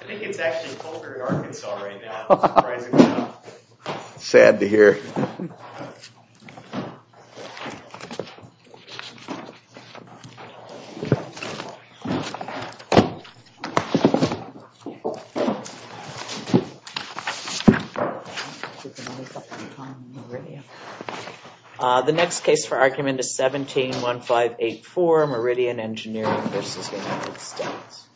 I think it's actually closer to Arkansas right now, surprisingly enough. Sad to hear. The next case for argument is 17-1584 Meridian Engineering v. United States. 17-1584 Meridian Engineering v. United States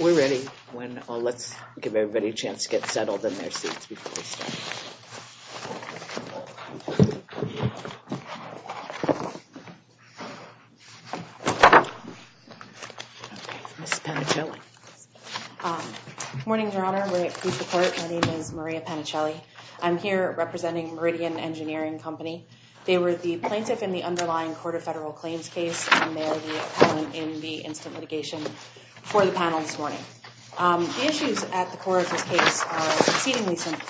We're ready. Let's give everybody a chance to get settled in their seats before we start. Ms. Panicelli. Good morning, Your Honor. My name is Maria Panicelli. I'm here representing Meridian Engineering Company. They were the plaintiff in the underlying court of federal claims case, and they are the opponent in the instant litigation for the panel this morning. The issues at the core of this case are exceedingly simple.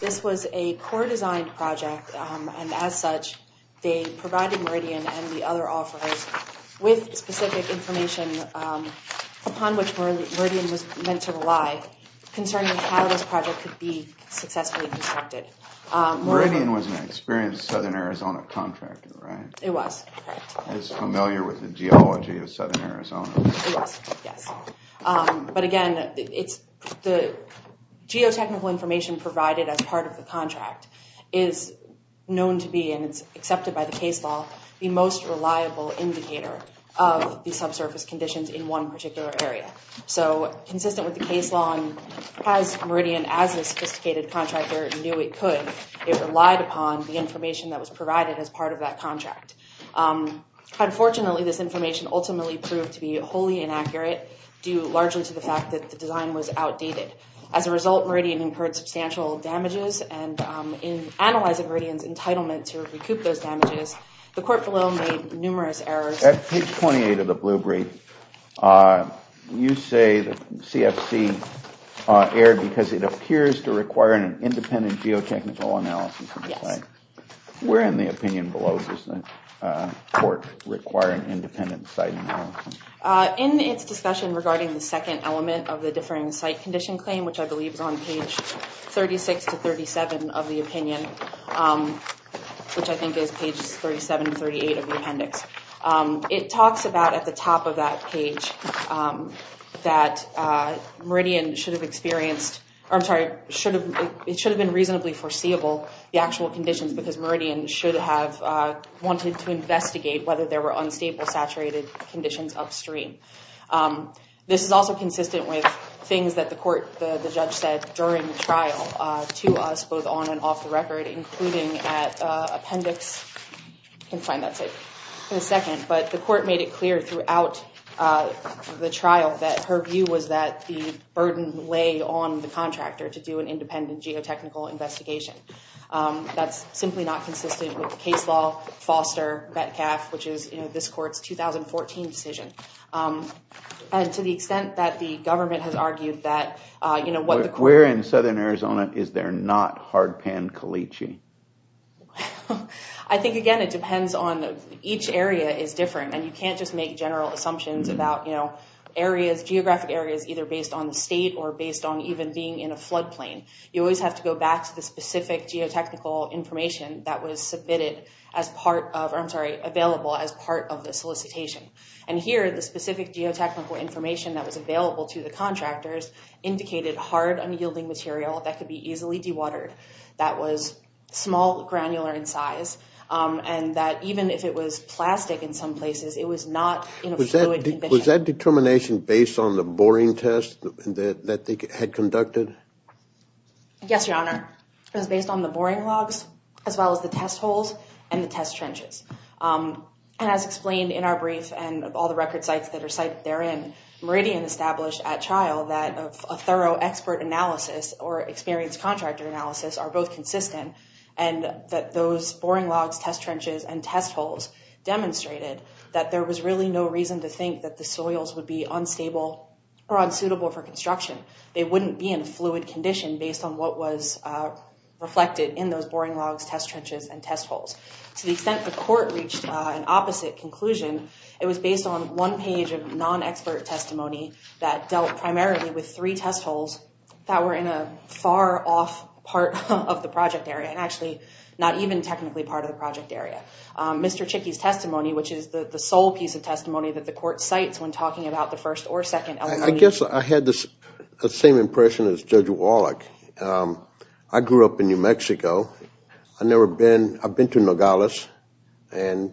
This was a core design project, and as such, they provided Meridian and the other offerors with specific information upon which Meridian was meant to rely concerning how this project could be successfully constructed. Meridian was an experienced Southern Arizona contractor, right? It was, correct. It's familiar with the geology of Southern Arizona. It was, yes. But again, the geotechnical information provided as part of the contract is known to be, and it's accepted by the case law, the most reliable indicator of the subsurface conditions in one particular area. So consistent with the case law, and as Meridian, as a sophisticated contractor, knew it could, it relied upon the information that was provided as part of that contract. Unfortunately, this information ultimately proved to be wholly inaccurate, due largely to the fact that the design was outdated. As a result, Meridian incurred substantial damages, and in analyzing Meridian's entitlement to recoup those damages, the court below made numerous errors. At page 28 of the blue brief, you say the CFC erred because it appears to require an independent geotechnical analysis. Yes. Where in the opinion below does the court require an independent site analysis? In its discussion regarding the second element of the differing site condition claim, which I believe is on page 36 to 37 of the opinion, which I think is pages 37 and 38 of the appendix, it talks about at the top of that page that Meridian should have experienced, or I'm sorry, it should have been reasonably foreseeable, the actual conditions, because Meridian should have wanted to investigate whether there were unstable, saturated conditions upstream. This is also consistent with things that the court, the judge, said during the trial to us, both on and off the record, including at appendix, you can find that in a second, but the court made it clear throughout the trial that her view was that the burden lay on the contractor to do an independent geotechnical investigation. That's simply not consistent with the case law, Foster, Betkaff, which is this court's 2014 decision. And to the extent that the government has argued that, you know... Where in southern Arizona is there not hardpan caliche? I think, again, it depends on each area is different, and you can't just make general assumptions about, you know, areas, geographic areas, either based on the state or based on even being in a floodplain. You always have to go back to the specific geotechnical information that was submitted as part of, or I'm sorry, available as part of the solicitation. And here, the specific geotechnical information that was available to the contractors indicated hard, unyielding material that could be easily dewatered, that was small, granular in size, and that even if it was plastic in some places, it was not in a fluid condition. Was that determination based on the boring test that they had conducted? Yes, Your Honor. It was based on the boring logs as well as the test holes and the test trenches. And as explained in our brief and all the record sites that are cited therein, Meridian established at trial that a thorough expert analysis or experienced contractor analysis are both consistent, and that those boring logs, test trenches, and test holes demonstrated that there was really no reason to think that the soils would be unstable or unsuitable for construction. They wouldn't be in fluid condition based on what was reflected in those boring logs, test trenches, and test holes. To the extent the court reached an opposite conclusion, it was based on one page of non-expert testimony that dealt primarily with three test holes that were in a far off part of the project area, and actually not even technically part of the project area. Mr. Chicky's testimony, which is the sole piece of testimony that the court cites when talking about the first or second element. I guess I had the same impression as Judge Wallach. I grew up in New Mexico. I've been to Nogales a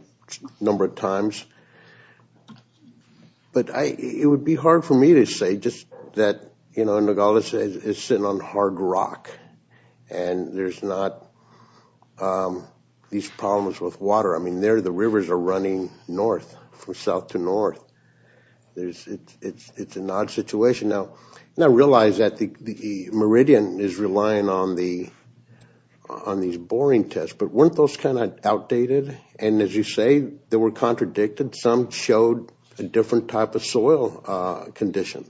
number of times, but it would be hard for me to say just that Nogales is sitting on hard rock and there's not these problems with water. I mean, the rivers are running north, from south to north. It's an odd situation. Now I realize that Meridian is relying on these boring tests, but weren't those kind of outdated? And as you say, they were contradicted. Some showed a different type of soil condition.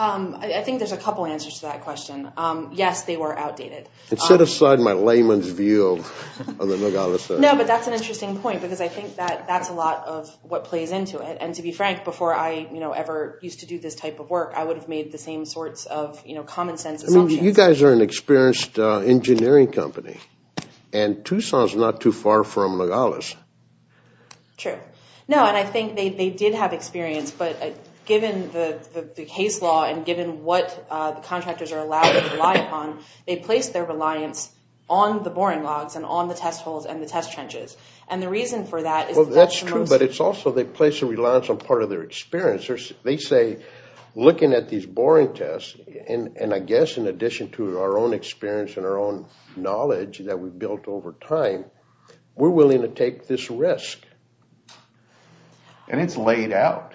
I think there's a couple answers to that question. Yes, they were outdated. And set aside my layman's view of the Nogales area. No, but that's an interesting point, because I think that's a lot of what plays into it. And to be frank, before I ever used to do this type of work, I would have made the same sorts of common sense assumptions. You guys are an experienced engineering company, and Tucson's not too far from Nogales. True. No, and I think they did have experience, but given the case law and given what the contractors are allowed to rely upon, they placed their reliance on the boring logs and on the test holes and the test trenches. And the reason for that is that's the most... Well, that's true, but it's also they place a reliance on part of their experience. They say, looking at these boring tests, and I guess in addition to our own experience and our own knowledge that we've built over time, we're willing to take this risk. And it's laid out.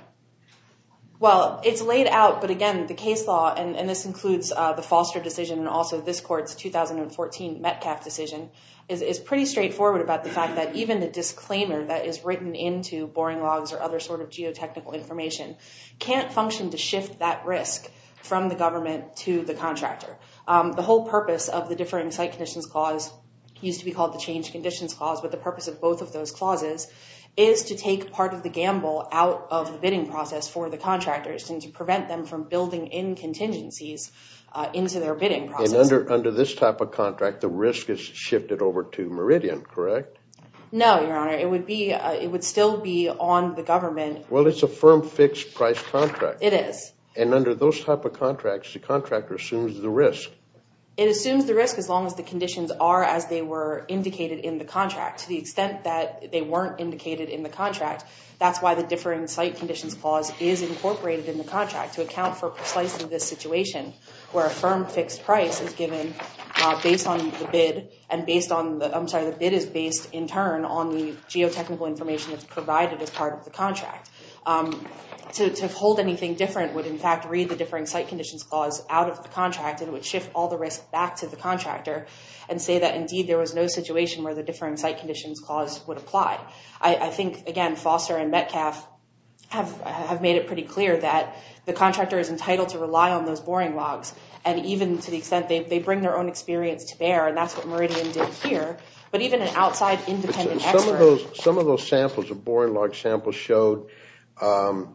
Well, it's laid out, but again, the case law, and this includes the Foster decision and also this court's 2014 Metcalf decision, is pretty straightforward about the fact that even the disclaimer that is written into boring logs or other sort of geotechnical information can't function to shift that risk from the government to the contractor. The whole purpose of the differing site conditions clause used to be called the change conditions clause, but the purpose of both of those clauses is to take part of the gamble out of the bidding process for the contractors and to prevent them from building in contingencies into their bidding process. And under this type of contract, the risk is shifted over to Meridian, correct? No, Your Honor. It would still be on the government. Well, it's a firm fixed price contract. It is. And under those type of contracts, the contractor assumes the risk. It assumes the risk as long as the conditions are as they were indicated in the contract. To the extent that they weren't indicated in the contract, that's why the differing site conditions clause is incorporated in the contract to account for precisely this situation where a firm fixed price is given based on the bid, and based on the, I'm sorry, the bid is based in turn on the geotechnical information that's provided as part of the contract. To hold anything different would in fact read the differing site conditions clause out of the contract and it would shift all the risk back to the contractor and say that indeed there was no situation where the differing site conditions clause would apply. I think, again, Foster and Metcalf have made it pretty clear that the contractor is entitled to rely on those boring logs and even to the extent they bring their own experience to bear, and that's what Meridian did here, but even an outside independent expert Some of those samples, the boring log samples, showed that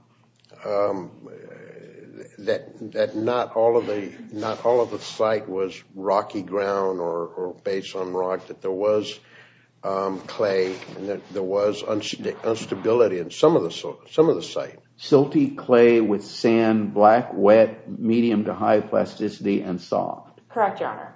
not all of the site was rocky ground or based on rock, that there was clay and that there was instability in some of the site. Silty clay with sand, black, wet, medium to high plasticity, and soft. Correct, Your Honor.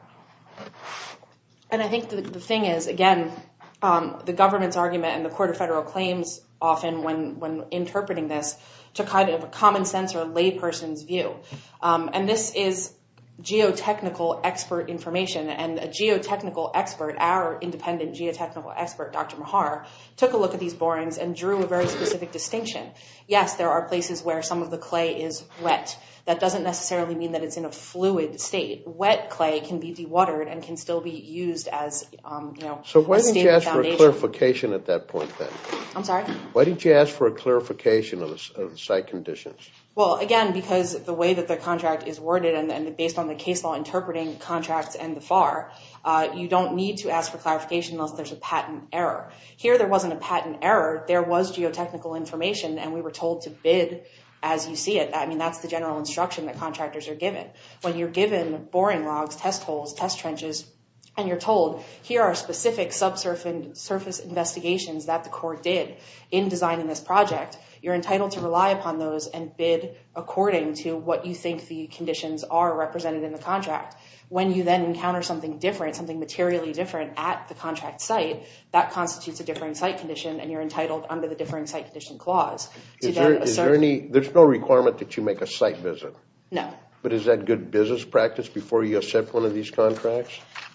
And I think the thing is, again, the government's argument and the Court of Federal Claims often, when interpreting this, took kind of a common sense or layperson's view. And this is geotechnical expert information and a geotechnical expert, our independent geotechnical expert, Dr. Mahar, took a look at these borings and drew a very specific distinction. Yes, there are places where some of the clay is wet. That doesn't necessarily mean that it's in a fluid state. Wet clay can be dewatered and can still be used as a stable foundation. So why didn't you ask for a clarification at that point, then? I'm sorry? Why didn't you ask for a clarification of the site conditions? Well, again, because the way that the contract is worded and based on the case law interpreting contracts and the FAR, you don't need to ask for clarification unless there's a patent error. Here, there wasn't a patent error. There was geotechnical information, and we were told to bid as you see it. I mean, that's the general instruction that contractors are given. When you're given boring logs, test holes, test trenches, and you're told, here are specific subsurface investigations that the court did in designing this project, you're entitled to rely upon those and bid according to what you think the conditions are represented in the contract. When you then encounter something different, something materially different at the contract site, that constitutes a differing site condition, and you're entitled under the differing site condition clause. There's no requirement that you make a site visit? No. But is that good business practice before you accept one of these contracts?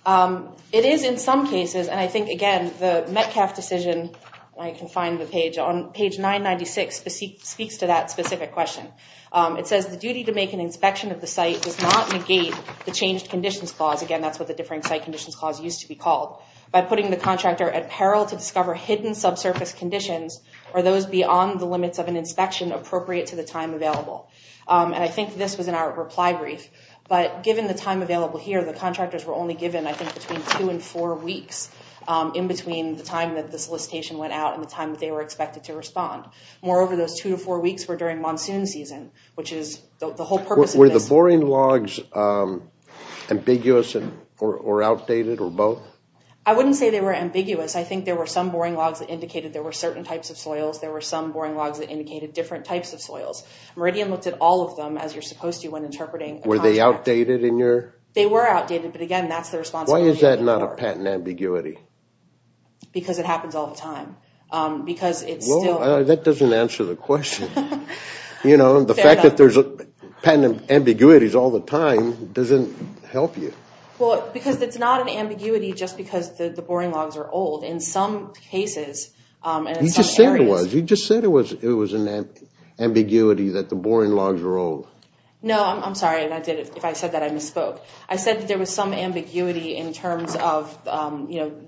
It is in some cases, and I think, again, the Metcalf decision, I can find the page, on page 996 speaks to that specific question. It says the duty to make an inspection of the site does not negate the changed conditions clause. Again, that's what the differing site conditions clause used to be called. By putting the contractor at peril to discover hidden subsurface conditions or those beyond the limits of an inspection appropriate to the time available. And I think this was in our reply brief. But given the time available here, the contractors were only given, I think, between two and four weeks in between the time that the solicitation went out and the time that they were expected to respond. Moreover, those two to four weeks were during monsoon season, which is the whole purpose of this. Were the boring logs ambiguous or outdated or both? I wouldn't say they were ambiguous. I think there were some boring logs that indicated there were certain types of soils. There were some boring logs that indicated different types of soils. Meridian looked at all of them, as you're supposed to when interpreting a contract. Were they outdated in your? They were outdated, but again, that's the responsibility of the employer. Why is that not a patent ambiguity? Because it happens all the time. Well, that doesn't answer the question. You know, the fact that there's patent ambiguities all the time doesn't help you. Well, because it's not an ambiguity just because the boring logs are old. In some cases and in some areas. You just said it was an ambiguity that the boring logs were old. No, I'm sorry. If I said that, I misspoke. I said that there was some ambiguity in terms of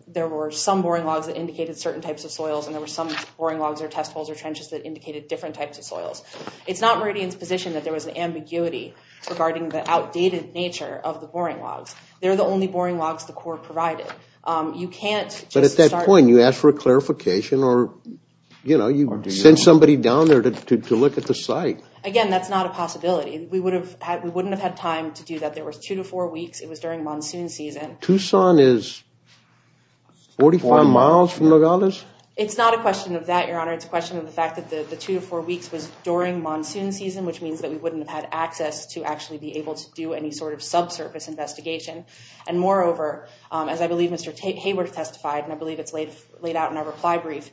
there were some boring logs that indicated certain types of soils and there were some boring logs or test holes or trenches that indicated different types of soils. It's not Meridian's position that there was an ambiguity regarding the outdated nature of the boring logs. They're the only boring logs the Corps provided. But at that point, you ask for a clarification or, you know, you send somebody down there to look at the site. Again, that's not a possibility. We wouldn't have had time to do that. There were two to four weeks. It was during monsoon season. Tucson is 45 miles from Nogales? It's not a question of that, Your Honor. It's a question of the fact that the two to four weeks was during monsoon season, which means that we wouldn't have had access to actually be able to do any sort of subsurface investigation. And moreover, as I believe Mr. Hayworth testified, and I believe it's laid out in our reply brief,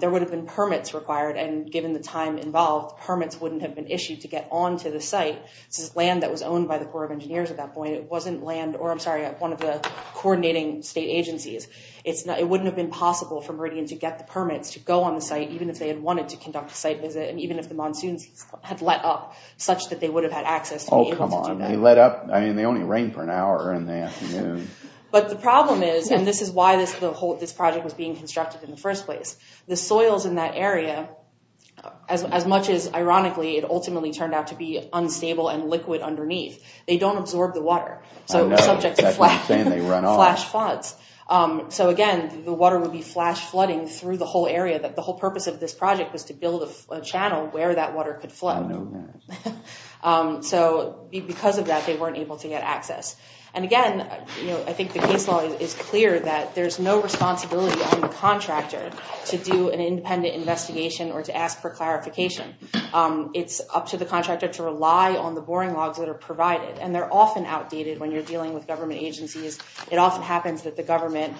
there would have been permits required, and given the time involved, permits wouldn't have been issued to get onto the site. This is land that was owned by the Corps of Engineers at that point. It wasn't land, or I'm sorry, one of the coordinating state agencies. It wouldn't have been possible for Meridian to get the permits to go on the site, even if they had wanted to conduct a site visit and even if the monsoons had let up, such that they would have had access to be able to do that. Oh, come on. They let up. I mean, they only rained for an hour in the afternoon. But the problem is, and this is why this project was being constructed in the first place, the soils in that area, as much as ironically it ultimately turned out to be unstable and liquid underneath, they don't absorb the water. I know. That's what I'm saying. They run off. So again, the water would be flash flooding through the whole area. The whole purpose of this project was to build a channel where that water could flood. I know that. So because of that, they weren't able to get access. And again, I think the case law is clear that there's no responsibility on the contractor to do an independent investigation or to ask for clarification. It's up to the contractor to rely on the boring logs that are provided. And they're often outdated when you're dealing with government agencies. It often happens that the government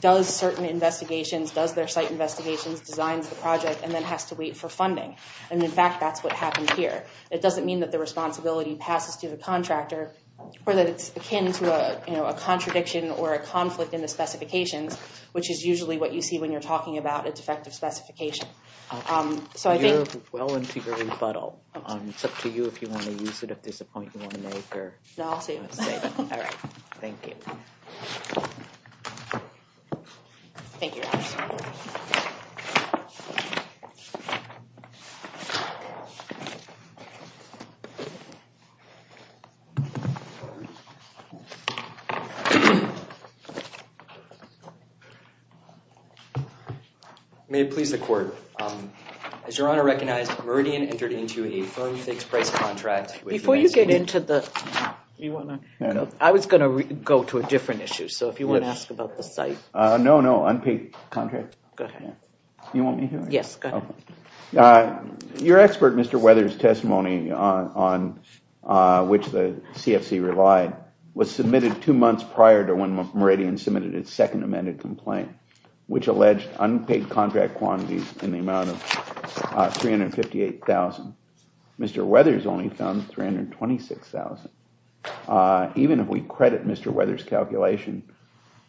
does certain investigations, does their site investigations, designs the project, and then has to wait for funding. And in fact, that's what happened here. It doesn't mean that the responsibility passes to the contractor or that it's akin to a contradiction or a conflict in the specifications, which is usually what you see when you're talking about a defective specification. You're well into your rebuttal. It's up to you if you want to use it, if there's a point you want to make. No, I'll save it. All right. Thank you. Thank you. Thank you. May it please the court. As your Honor recognized, Meridian entered into a firm-fixed price contract. Before you get into the— You want to— I was going to go to a different issue. So if you want to ask about the site. No, no, unpaid contract. You want me to? Yes, go ahead. Your expert, Mr. Weathers' testimony on which the CFC relied, was submitted two months prior to when Meridian submitted its second amended complaint, which alleged unpaid contract quantities in the amount of $358,000. Mr. Weathers only found $326,000. Even if we credit Mr. Weathers' calculation,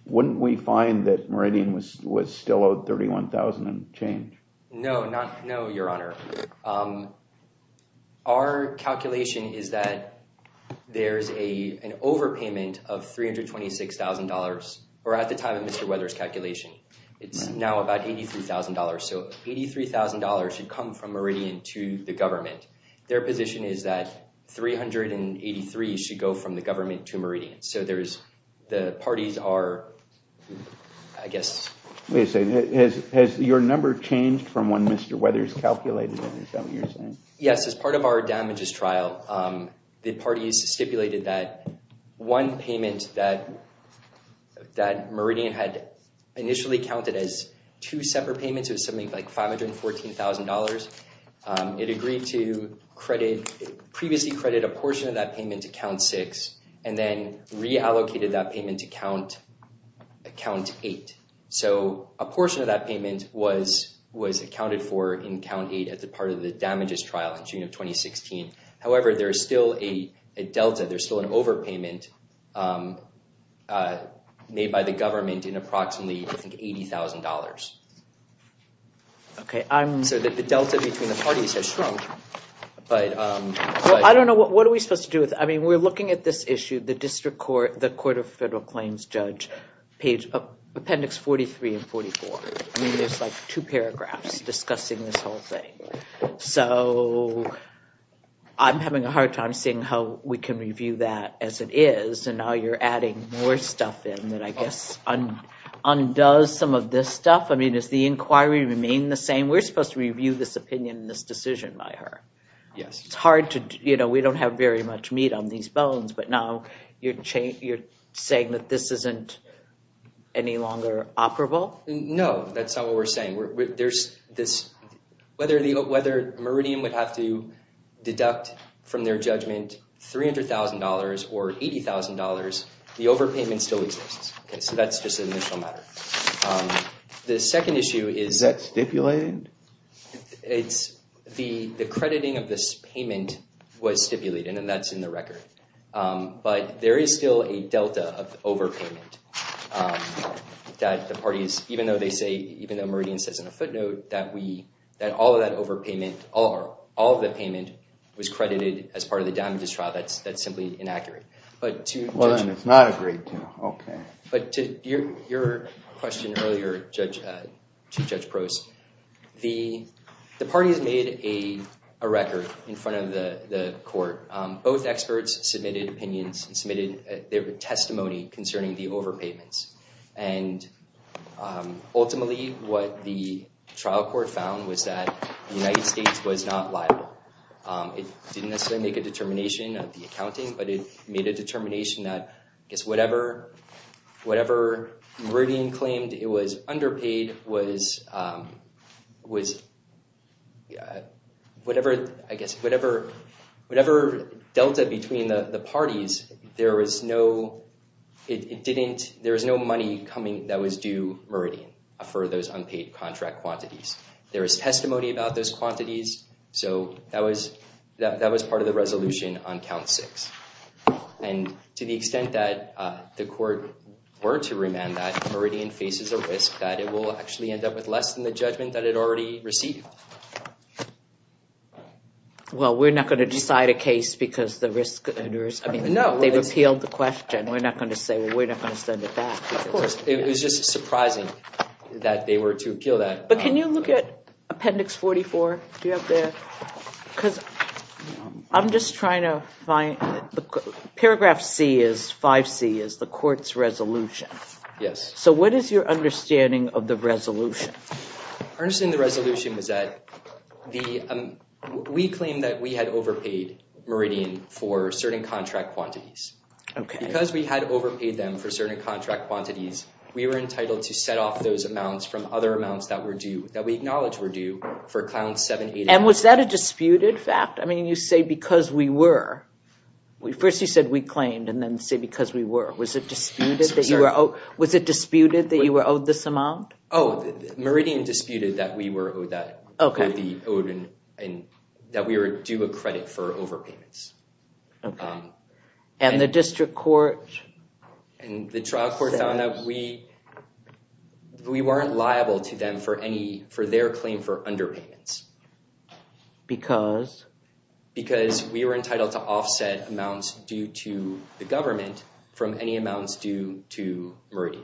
wouldn't we find that Meridian was still owed $31,000 and change? No, your Honor. Our calculation is that there's an overpayment of $326,000, or at the time of Mr. Weathers' calculation, it's now about $83,000. So $83,000 should come from Meridian to the government. Their position is that $383,000 should go from the government to Meridian. So the parties are, I guess— Wait a second. Has your number changed from when Mr. Weathers calculated it? Is that what you're saying? Yes, as part of our damages trial, the parties stipulated that one payment that Meridian had initially counted as two separate payments of something like $514,000, it agreed to previously credit a portion of that payment to Count 6, and then reallocated that payment to Count 8. So a portion of that payment was accounted for in Count 8 as a part of the damages trial in June of 2016. However, there's still a delta. There's still an overpayment made by the government in approximately, I think, $80,000. Okay, I'm— So the delta between the parties has shrunk, but— Well, I don't know. What are we supposed to do with it? I mean, we're looking at this issue. The District Court, the Court of Federal Claims Judge, page—appendix 43 and 44. I mean, there's like two paragraphs discussing this whole thing. So I'm having a hard time seeing how we can review that as it is, and now you're adding more stuff in that I guess undoes some of this stuff. I mean, does the inquiry remain the same? We're supposed to review this opinion and this decision by her. Yes. It's hard to—you know, we don't have very much meat on these bones, but now you're saying that this isn't any longer operable? No, that's not what we're saying. There's this—whether Meridian would have to deduct from their judgment $300,000 or $80,000, the overpayment still exists. Okay, so that's just an initial matter. The second issue is— Is that stipulated? It's—the crediting of this payment was stipulated, and that's in the record. But there is still a delta of overpayment that the parties— even though they say—even though Meridian says in a footnote that we— that all of that overpayment—all of the payment was credited as part of the damages trial. That's simply inaccurate. But to— Well, then it's not agreed to. Okay. But to your question earlier, Chief Judge Prost, the parties made a record in front of the court. Both experts submitted opinions and submitted their testimony concerning the overpayments. And ultimately, what the trial court found was that the United States was not liable. It didn't necessarily make a determination of the accounting, but it made a determination that, I guess, whatever Meridian claimed it was underpaid was— whatever, I guess, whatever delta between the parties, there was no—it didn't— there was no money coming that was due Meridian for those unpaid contract quantities. There was testimony about those quantities, so that was part of the resolution on Count 6. And to the extent that the court were to remand that, there is a risk that it will actually end up with less than the judgment that it already received. Well, we're not going to decide a case because the risk— No. They've appealed the question. We're not going to say, well, we're not going to send it back. Of course. It was just surprising that they were to appeal that. But can you look at Appendix 44? Do you have that? Because I'm just trying to find— Paragraph C is—5C is the court's resolution. Yes. So what is your understanding of the resolution? Our understanding of the resolution was that the— we claimed that we had overpaid Meridian for certain contract quantities. Okay. Because we had overpaid them for certain contract quantities, we were entitled to set off those amounts from other amounts that were due, that we acknowledge were due, for Clound 780. And was that a disputed fact? I mean, you say because we were. First you said we claimed and then say because we were. Was it disputed that you were— Was it disputed that you were owed this amount? Oh, Meridian disputed that we were owed that. Okay. That we were due a credit for overpayments. Okay. And the district court says— And the trial court found that we weren't liable to them for any— for their claim for underpayments. Because? Because we were entitled to offset amounts due to the government from any amounts due to Meridian.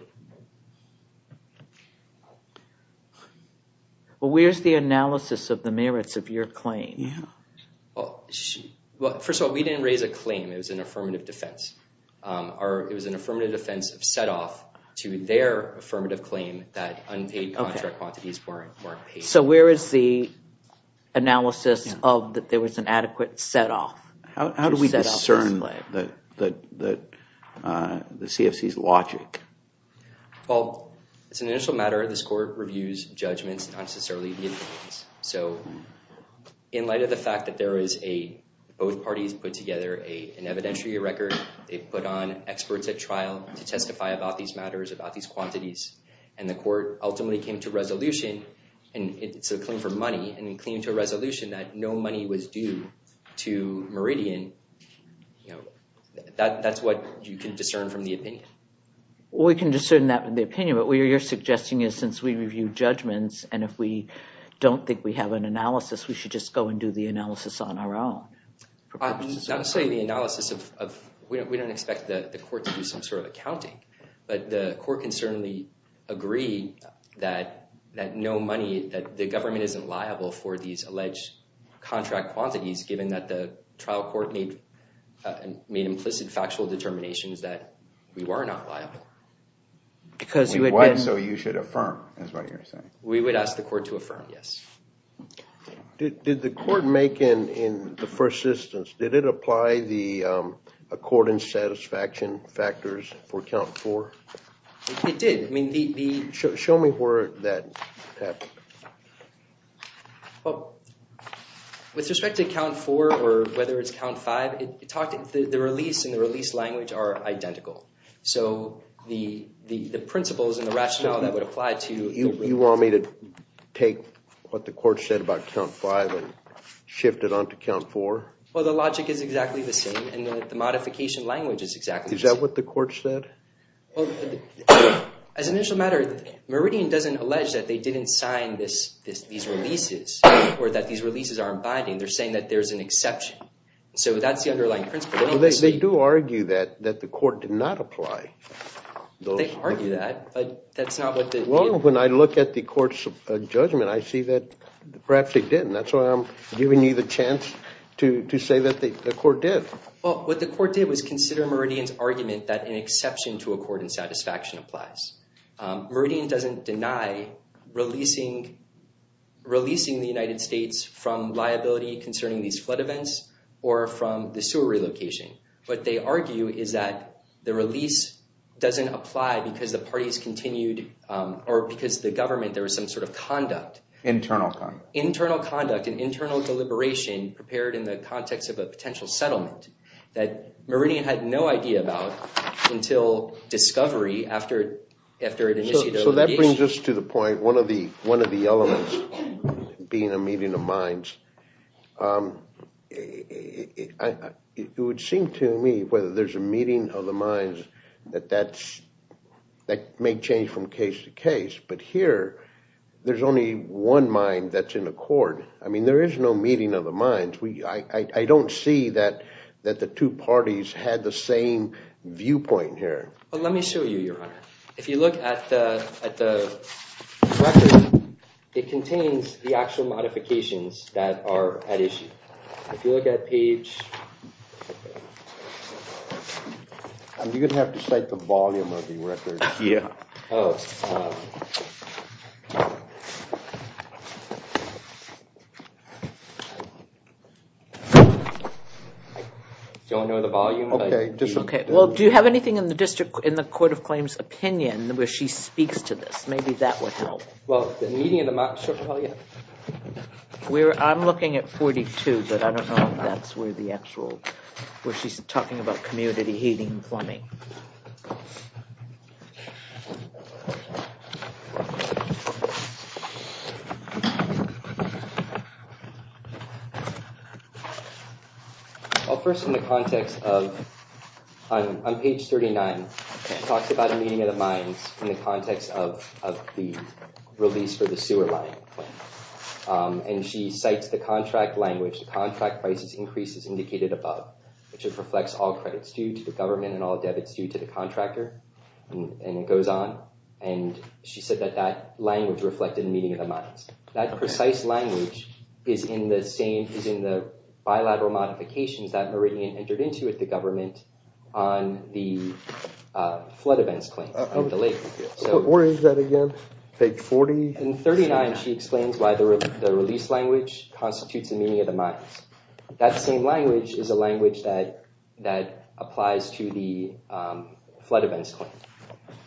Well, where's the analysis of the merits of your claim? Well, first of all, we didn't raise a claim. It was an affirmative defense. It was an affirmative defense of set off to their affirmative claim that unpaid contract quantities weren't paid. So where is the analysis of that there was an adequate set off? How do we discern the CFC's logic? Well, it's an initial matter. This court reviews judgments, not necessarily the evidence. So in light of the fact that there is a— both parties put together an evidentiary record. They put on experts at trial to testify about these matters, about these quantities. And the court ultimately came to a resolution, and it's a claim for money, and it came to a resolution that no money was due to Meridian. That's what you can discern from the opinion. We can discern that from the opinion, but what you're suggesting is since we review judgments and if we don't think we have an analysis, we should just go and do the analysis on our own. I would say the analysis of— we don't expect the court to do some sort of accounting, but the court can certainly agree that no money— is liable for these alleged contract quantities, given that the trial court made implicit factual determinations that we were not liable. Because you had been— So you should affirm is what you're saying. We would ask the court to affirm, yes. Did the court make in the first instance, did it apply the accordance satisfaction factors for count four? It did. Show me where that happened. Well, with respect to count four or whether it's count five, the release and the release language are identical. So the principles and the rationale that would apply to— You want me to take what the court said about count five and shift it on to count four? Well, the logic is exactly the same, and the modification language is exactly the same. Is that what the court said? Well, as an initial matter, Meridian doesn't allege that they didn't sign these releases or that these releases aren't binding. They're saying that there's an exception. So that's the underlying principle. They do argue that the court did not apply. They argue that, but that's not what the— Well, when I look at the court's judgment, I see that perhaps they did, and that's why I'm giving you the chance to say that the court did. Well, what the court did was consider Meridian's argument that an exception to accord and satisfaction applies. Meridian doesn't deny releasing the United States from liability concerning these flood events or from the sewer relocation. What they argue is that the release doesn't apply because the parties continued— or because the government, there was some sort of conduct. Internal conduct. Internal conduct and internal deliberation prepared in the context of a potential settlement that Meridian had no idea about until discovery after it initiated a litigation. So that brings us to the point, one of the elements being a meeting of minds. It would seem to me whether there's a meeting of the minds that that may change from case to case, but here there's only one mind that's in accord. I mean, there is no meeting of the minds. I don't see that the two parties had the same viewpoint here. Let me show you, Your Honor. If you look at the record, it contains the actual modifications that are at issue. If you look at page— You're going to have to cite the volume of the record. Yeah. Oh. Do you want to know the volume? Okay. Well, do you have anything in the court of claims opinion where she speaks to this? Maybe that would help. Well, the meeting of the minds, she'll tell you. I'm looking at 42, but I don't know if that's where the actual— where she's talking about community heating and plumbing. Okay. Well, first, in the context of— on page 39, it talks about a meeting of the minds in the context of the release for the sewer line. And she cites the contract language. The contract price increase is indicated above, which reflects all credits due to the government and all debits due to the contractor, and it goes on. And she said that that language reflected the meeting of the minds. That precise language is in the same— is in the bilateral modifications that Meridian entered into with the government on the flood events claims. Where is that again? Page 40? In 39, she explains why the release language constitutes a meeting of the minds. That same language is a language that applies to the flood events claim.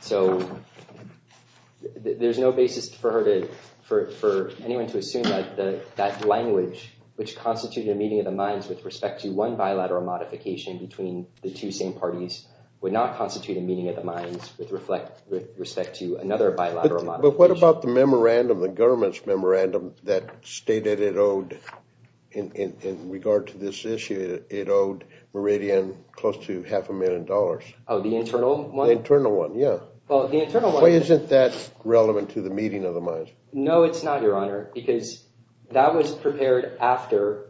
So there's no basis for her to— for anyone to assume that that language, which constituted a meeting of the minds with respect to one bilateral modification between the two same parties, would not constitute a meeting of the minds with respect to another bilateral modification. But what about the memorandum, the government's memorandum, that stated it owed— in regard to this issue, it owed Meridian close to half a million dollars? Oh, the internal one? The internal one, yeah. Well, the internal one— Why isn't that relevant to the meeting of the minds? No, it's not, Your Honor, because that was prepared after—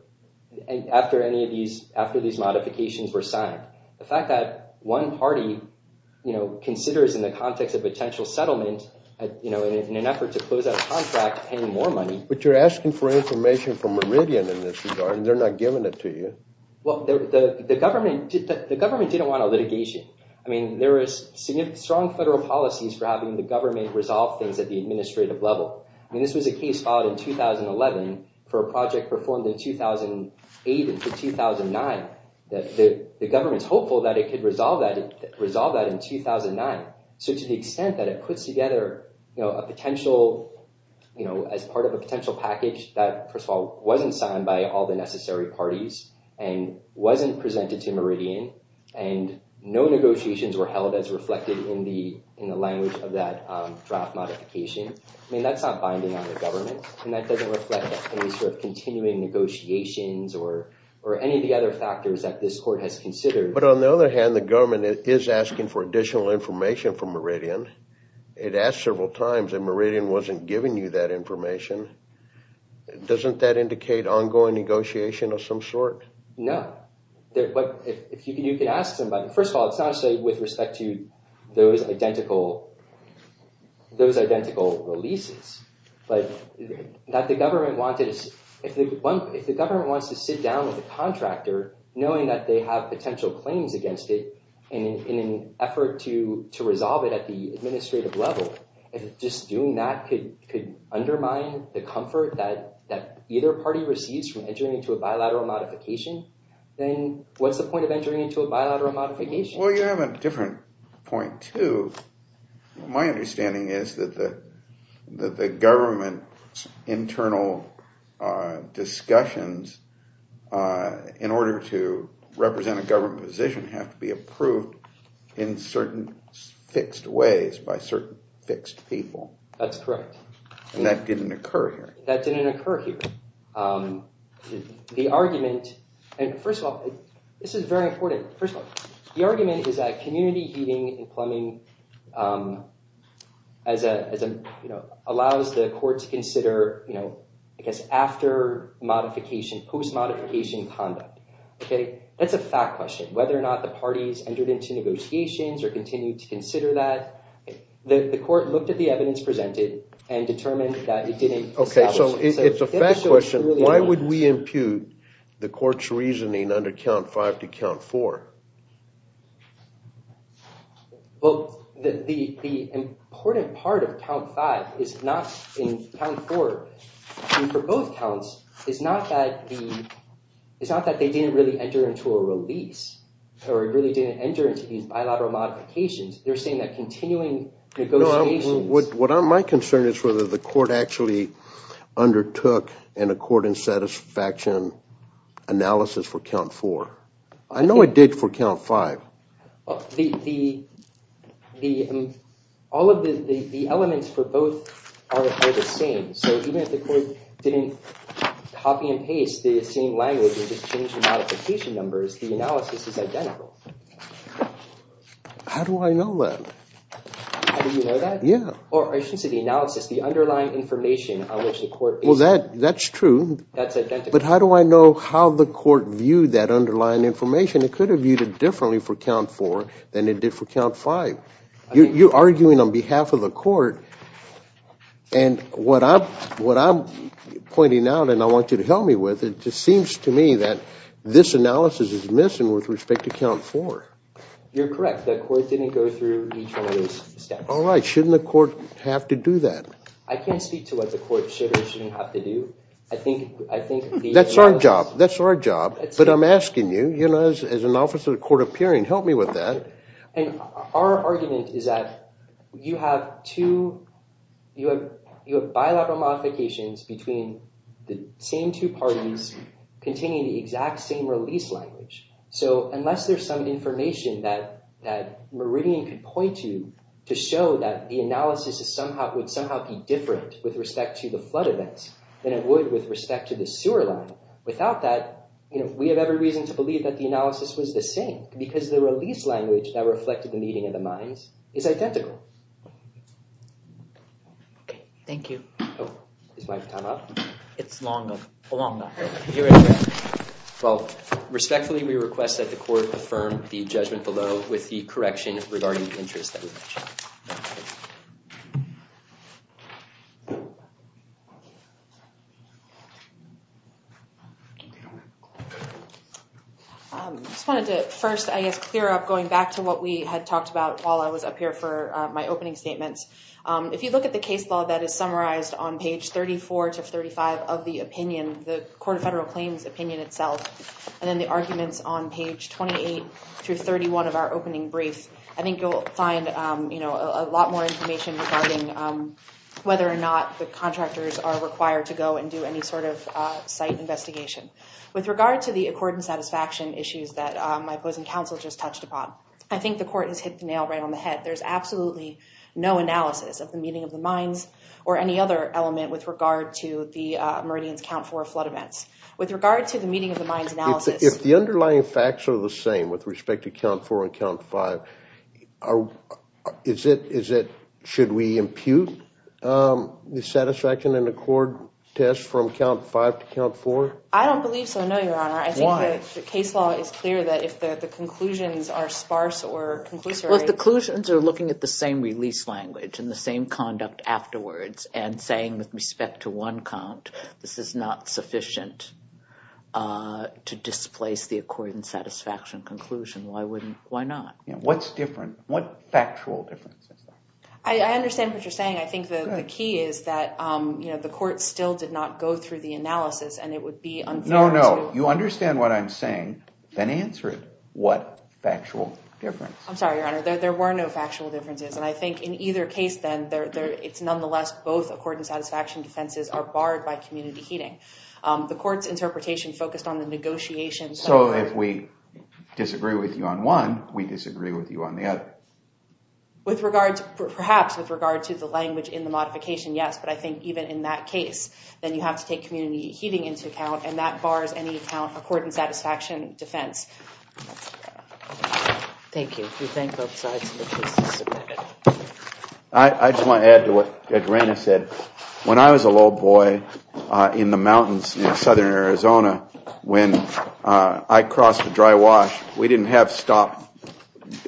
after any of these— after these modifications were signed. The fact that one party, you know, considers in the context of potential settlement, you know, in an effort to close out a contract, paying more money— But you're asking for information from Meridian in this regard, and they're not giving it to you. Well, the government— the government didn't want a litigation. I mean, there is strong federal policies for having the government resolve things at the administrative level. I mean, this was a case filed in 2011 for a project performed in 2008 and 2009. The government's hopeful that it could resolve that— resolve that in 2009. So to the extent that it puts together, you know, a potential— you know, as part of a potential package that, first of all, wasn't signed by all the necessary parties and wasn't presented to Meridian and no negotiations were held as reflected in the language of that draft modification, I mean, that's not binding on the government, and that doesn't reflect any sort of continuing negotiations or any of the other factors that this court has considered. But on the other hand, the government is asking for additional information from Meridian. It asked several times, and Meridian wasn't giving you that information. Doesn't that indicate ongoing negotiation of some sort? No. But if you can ask somebody— first of all, it's not necessarily with respect to those identical— those identical releases. But that the government wanted— if the government wants to sit down with the contractor, knowing that they have potential claims against it, in an effort to resolve it at the administrative level, if just doing that could undermine the comfort that either party receives from entering into a bilateral modification, then what's the point of entering into a bilateral modification? Well, you have a different point, too. My understanding is that the government's internal discussions in order to represent a government position have to be approved in certain fixed ways by certain fixed people. That's correct. And that didn't occur here. That didn't occur here. The argument— and first of all, this is very important. First of all, the argument is that community heating and plumbing allows the court to consider after modification, post-modification conduct. That's a fact question. Whether or not the parties entered into negotiations or continued to consider that, the court looked at the evidence presented and determined that it didn't establish. It's a fact question. Why would we impute the court's reasoning under Count 5 to Count 4? Well, the important part of Count 5 is not in Count 4. For both counts, it's not that they didn't really enter into a release or it really didn't enter into these bilateral modifications. They're saying that continuing negotiations— No, my concern is whether the court actually undertook an accord and satisfaction analysis for Count 4. I know it did for Count 5. All of the elements for both are the same. So even if the court didn't copy and paste the same language or just change the modification numbers, the analysis is identical. How do I know that? How do you know that? Yeah. Or I should say the analysis, the underlying information on which the court— Well, that's true. That's identical. But how do I know how the court viewed that underlying information? It could have viewed it differently for Count 4 than it did for Count 5. You're arguing on behalf of the court and what I'm pointing out and I want you to help me with, it just seems to me that this analysis is missing with respect to Count 4. You're correct. The court didn't go through each one of those steps. All right. Shouldn't the court have to do that? I can't speak to what the court should or shouldn't have to do. I think the analysis— That's our job. That's our job. But I'm asking you, as an officer of the court appearing, help me with that. Our argument is that you have bilateral modifications between the same two parties containing the exact same release language. So unless there's some information that Meridian could point to to show that the analysis would somehow be different with respect to the flood events than it would with respect to the sewer line, without that, we have every reason to believe that the analysis was the same because the release language that reflected the meeting of the minds is identical. Okay. Thank you. Oh. Is my time up? It's long enough. Well, respectfully, we request that the court affirm the judgment below with the correction regarding the interests that we mentioned. I just wanted to first, I guess, clear up going back to what we had talked about while I was up here for my opening statements. If you look at the case law that is summarized on page 34 to 35 of the opinion, the Court of Federal Claims opinion itself, and then the arguments on page 28 through 31 of our opening brief, I think you'll find, you know, a lot more information regarding whether or not the contractors are required to go and do any sort of site investigation. With regard to the accord and satisfaction issues that my opposing counsel just touched upon, I think the court has hit the nail right on the head. There's absolutely no analysis of the meeting of the minds or any other element with regard to the Meridian's Count 4 flood events. With regard to the meeting of the minds analysis... If the underlying facts are the same with respect to Count 4 and Count 5, is it, should we impute the satisfaction and accord test from Count 5 to Count 4? I don't believe so, no, Your Honor. Why? I think the case law is clear that if the conclusions are sparse or conclusory... Well, if the conclusions are looking at the same release language and the same conduct afterwards, and saying, with respect to one count, this is not sufficient to displace the accord and satisfaction conclusion, why wouldn't, why not? What's different? What factual difference is there? I understand what you're saying. I think the key is that, you know, the court still did not go through the analysis and it would be unfair to... No, no. You understand what I'm saying, then answer it. What factual difference? I'm sorry, Your Honor. There were no factual differences, and I think in either case, then it's nonetheless both accord and satisfaction defenses are barred by community heeding. The court's interpretation focused on the negotiations... So, if we disagree with you on one, we disagree with you on the other? With regards, perhaps, with regard to the language in the modification, yes, but I think even in that case, then you have to take and that bars any account accord and satisfaction defense. Thank you. Do you think both sides of the case disagree? I think both sides agree that the court I just want to add to what Judge Reyna said. When I was a little boy in the mountains in southern Arizona, when I crossed the dry wash, we didn't have stop,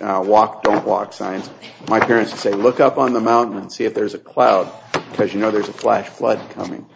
walk, don't walk signs. My parents would say, look up on the mountain and see if there's a cloud because you know there's a flash flood coming.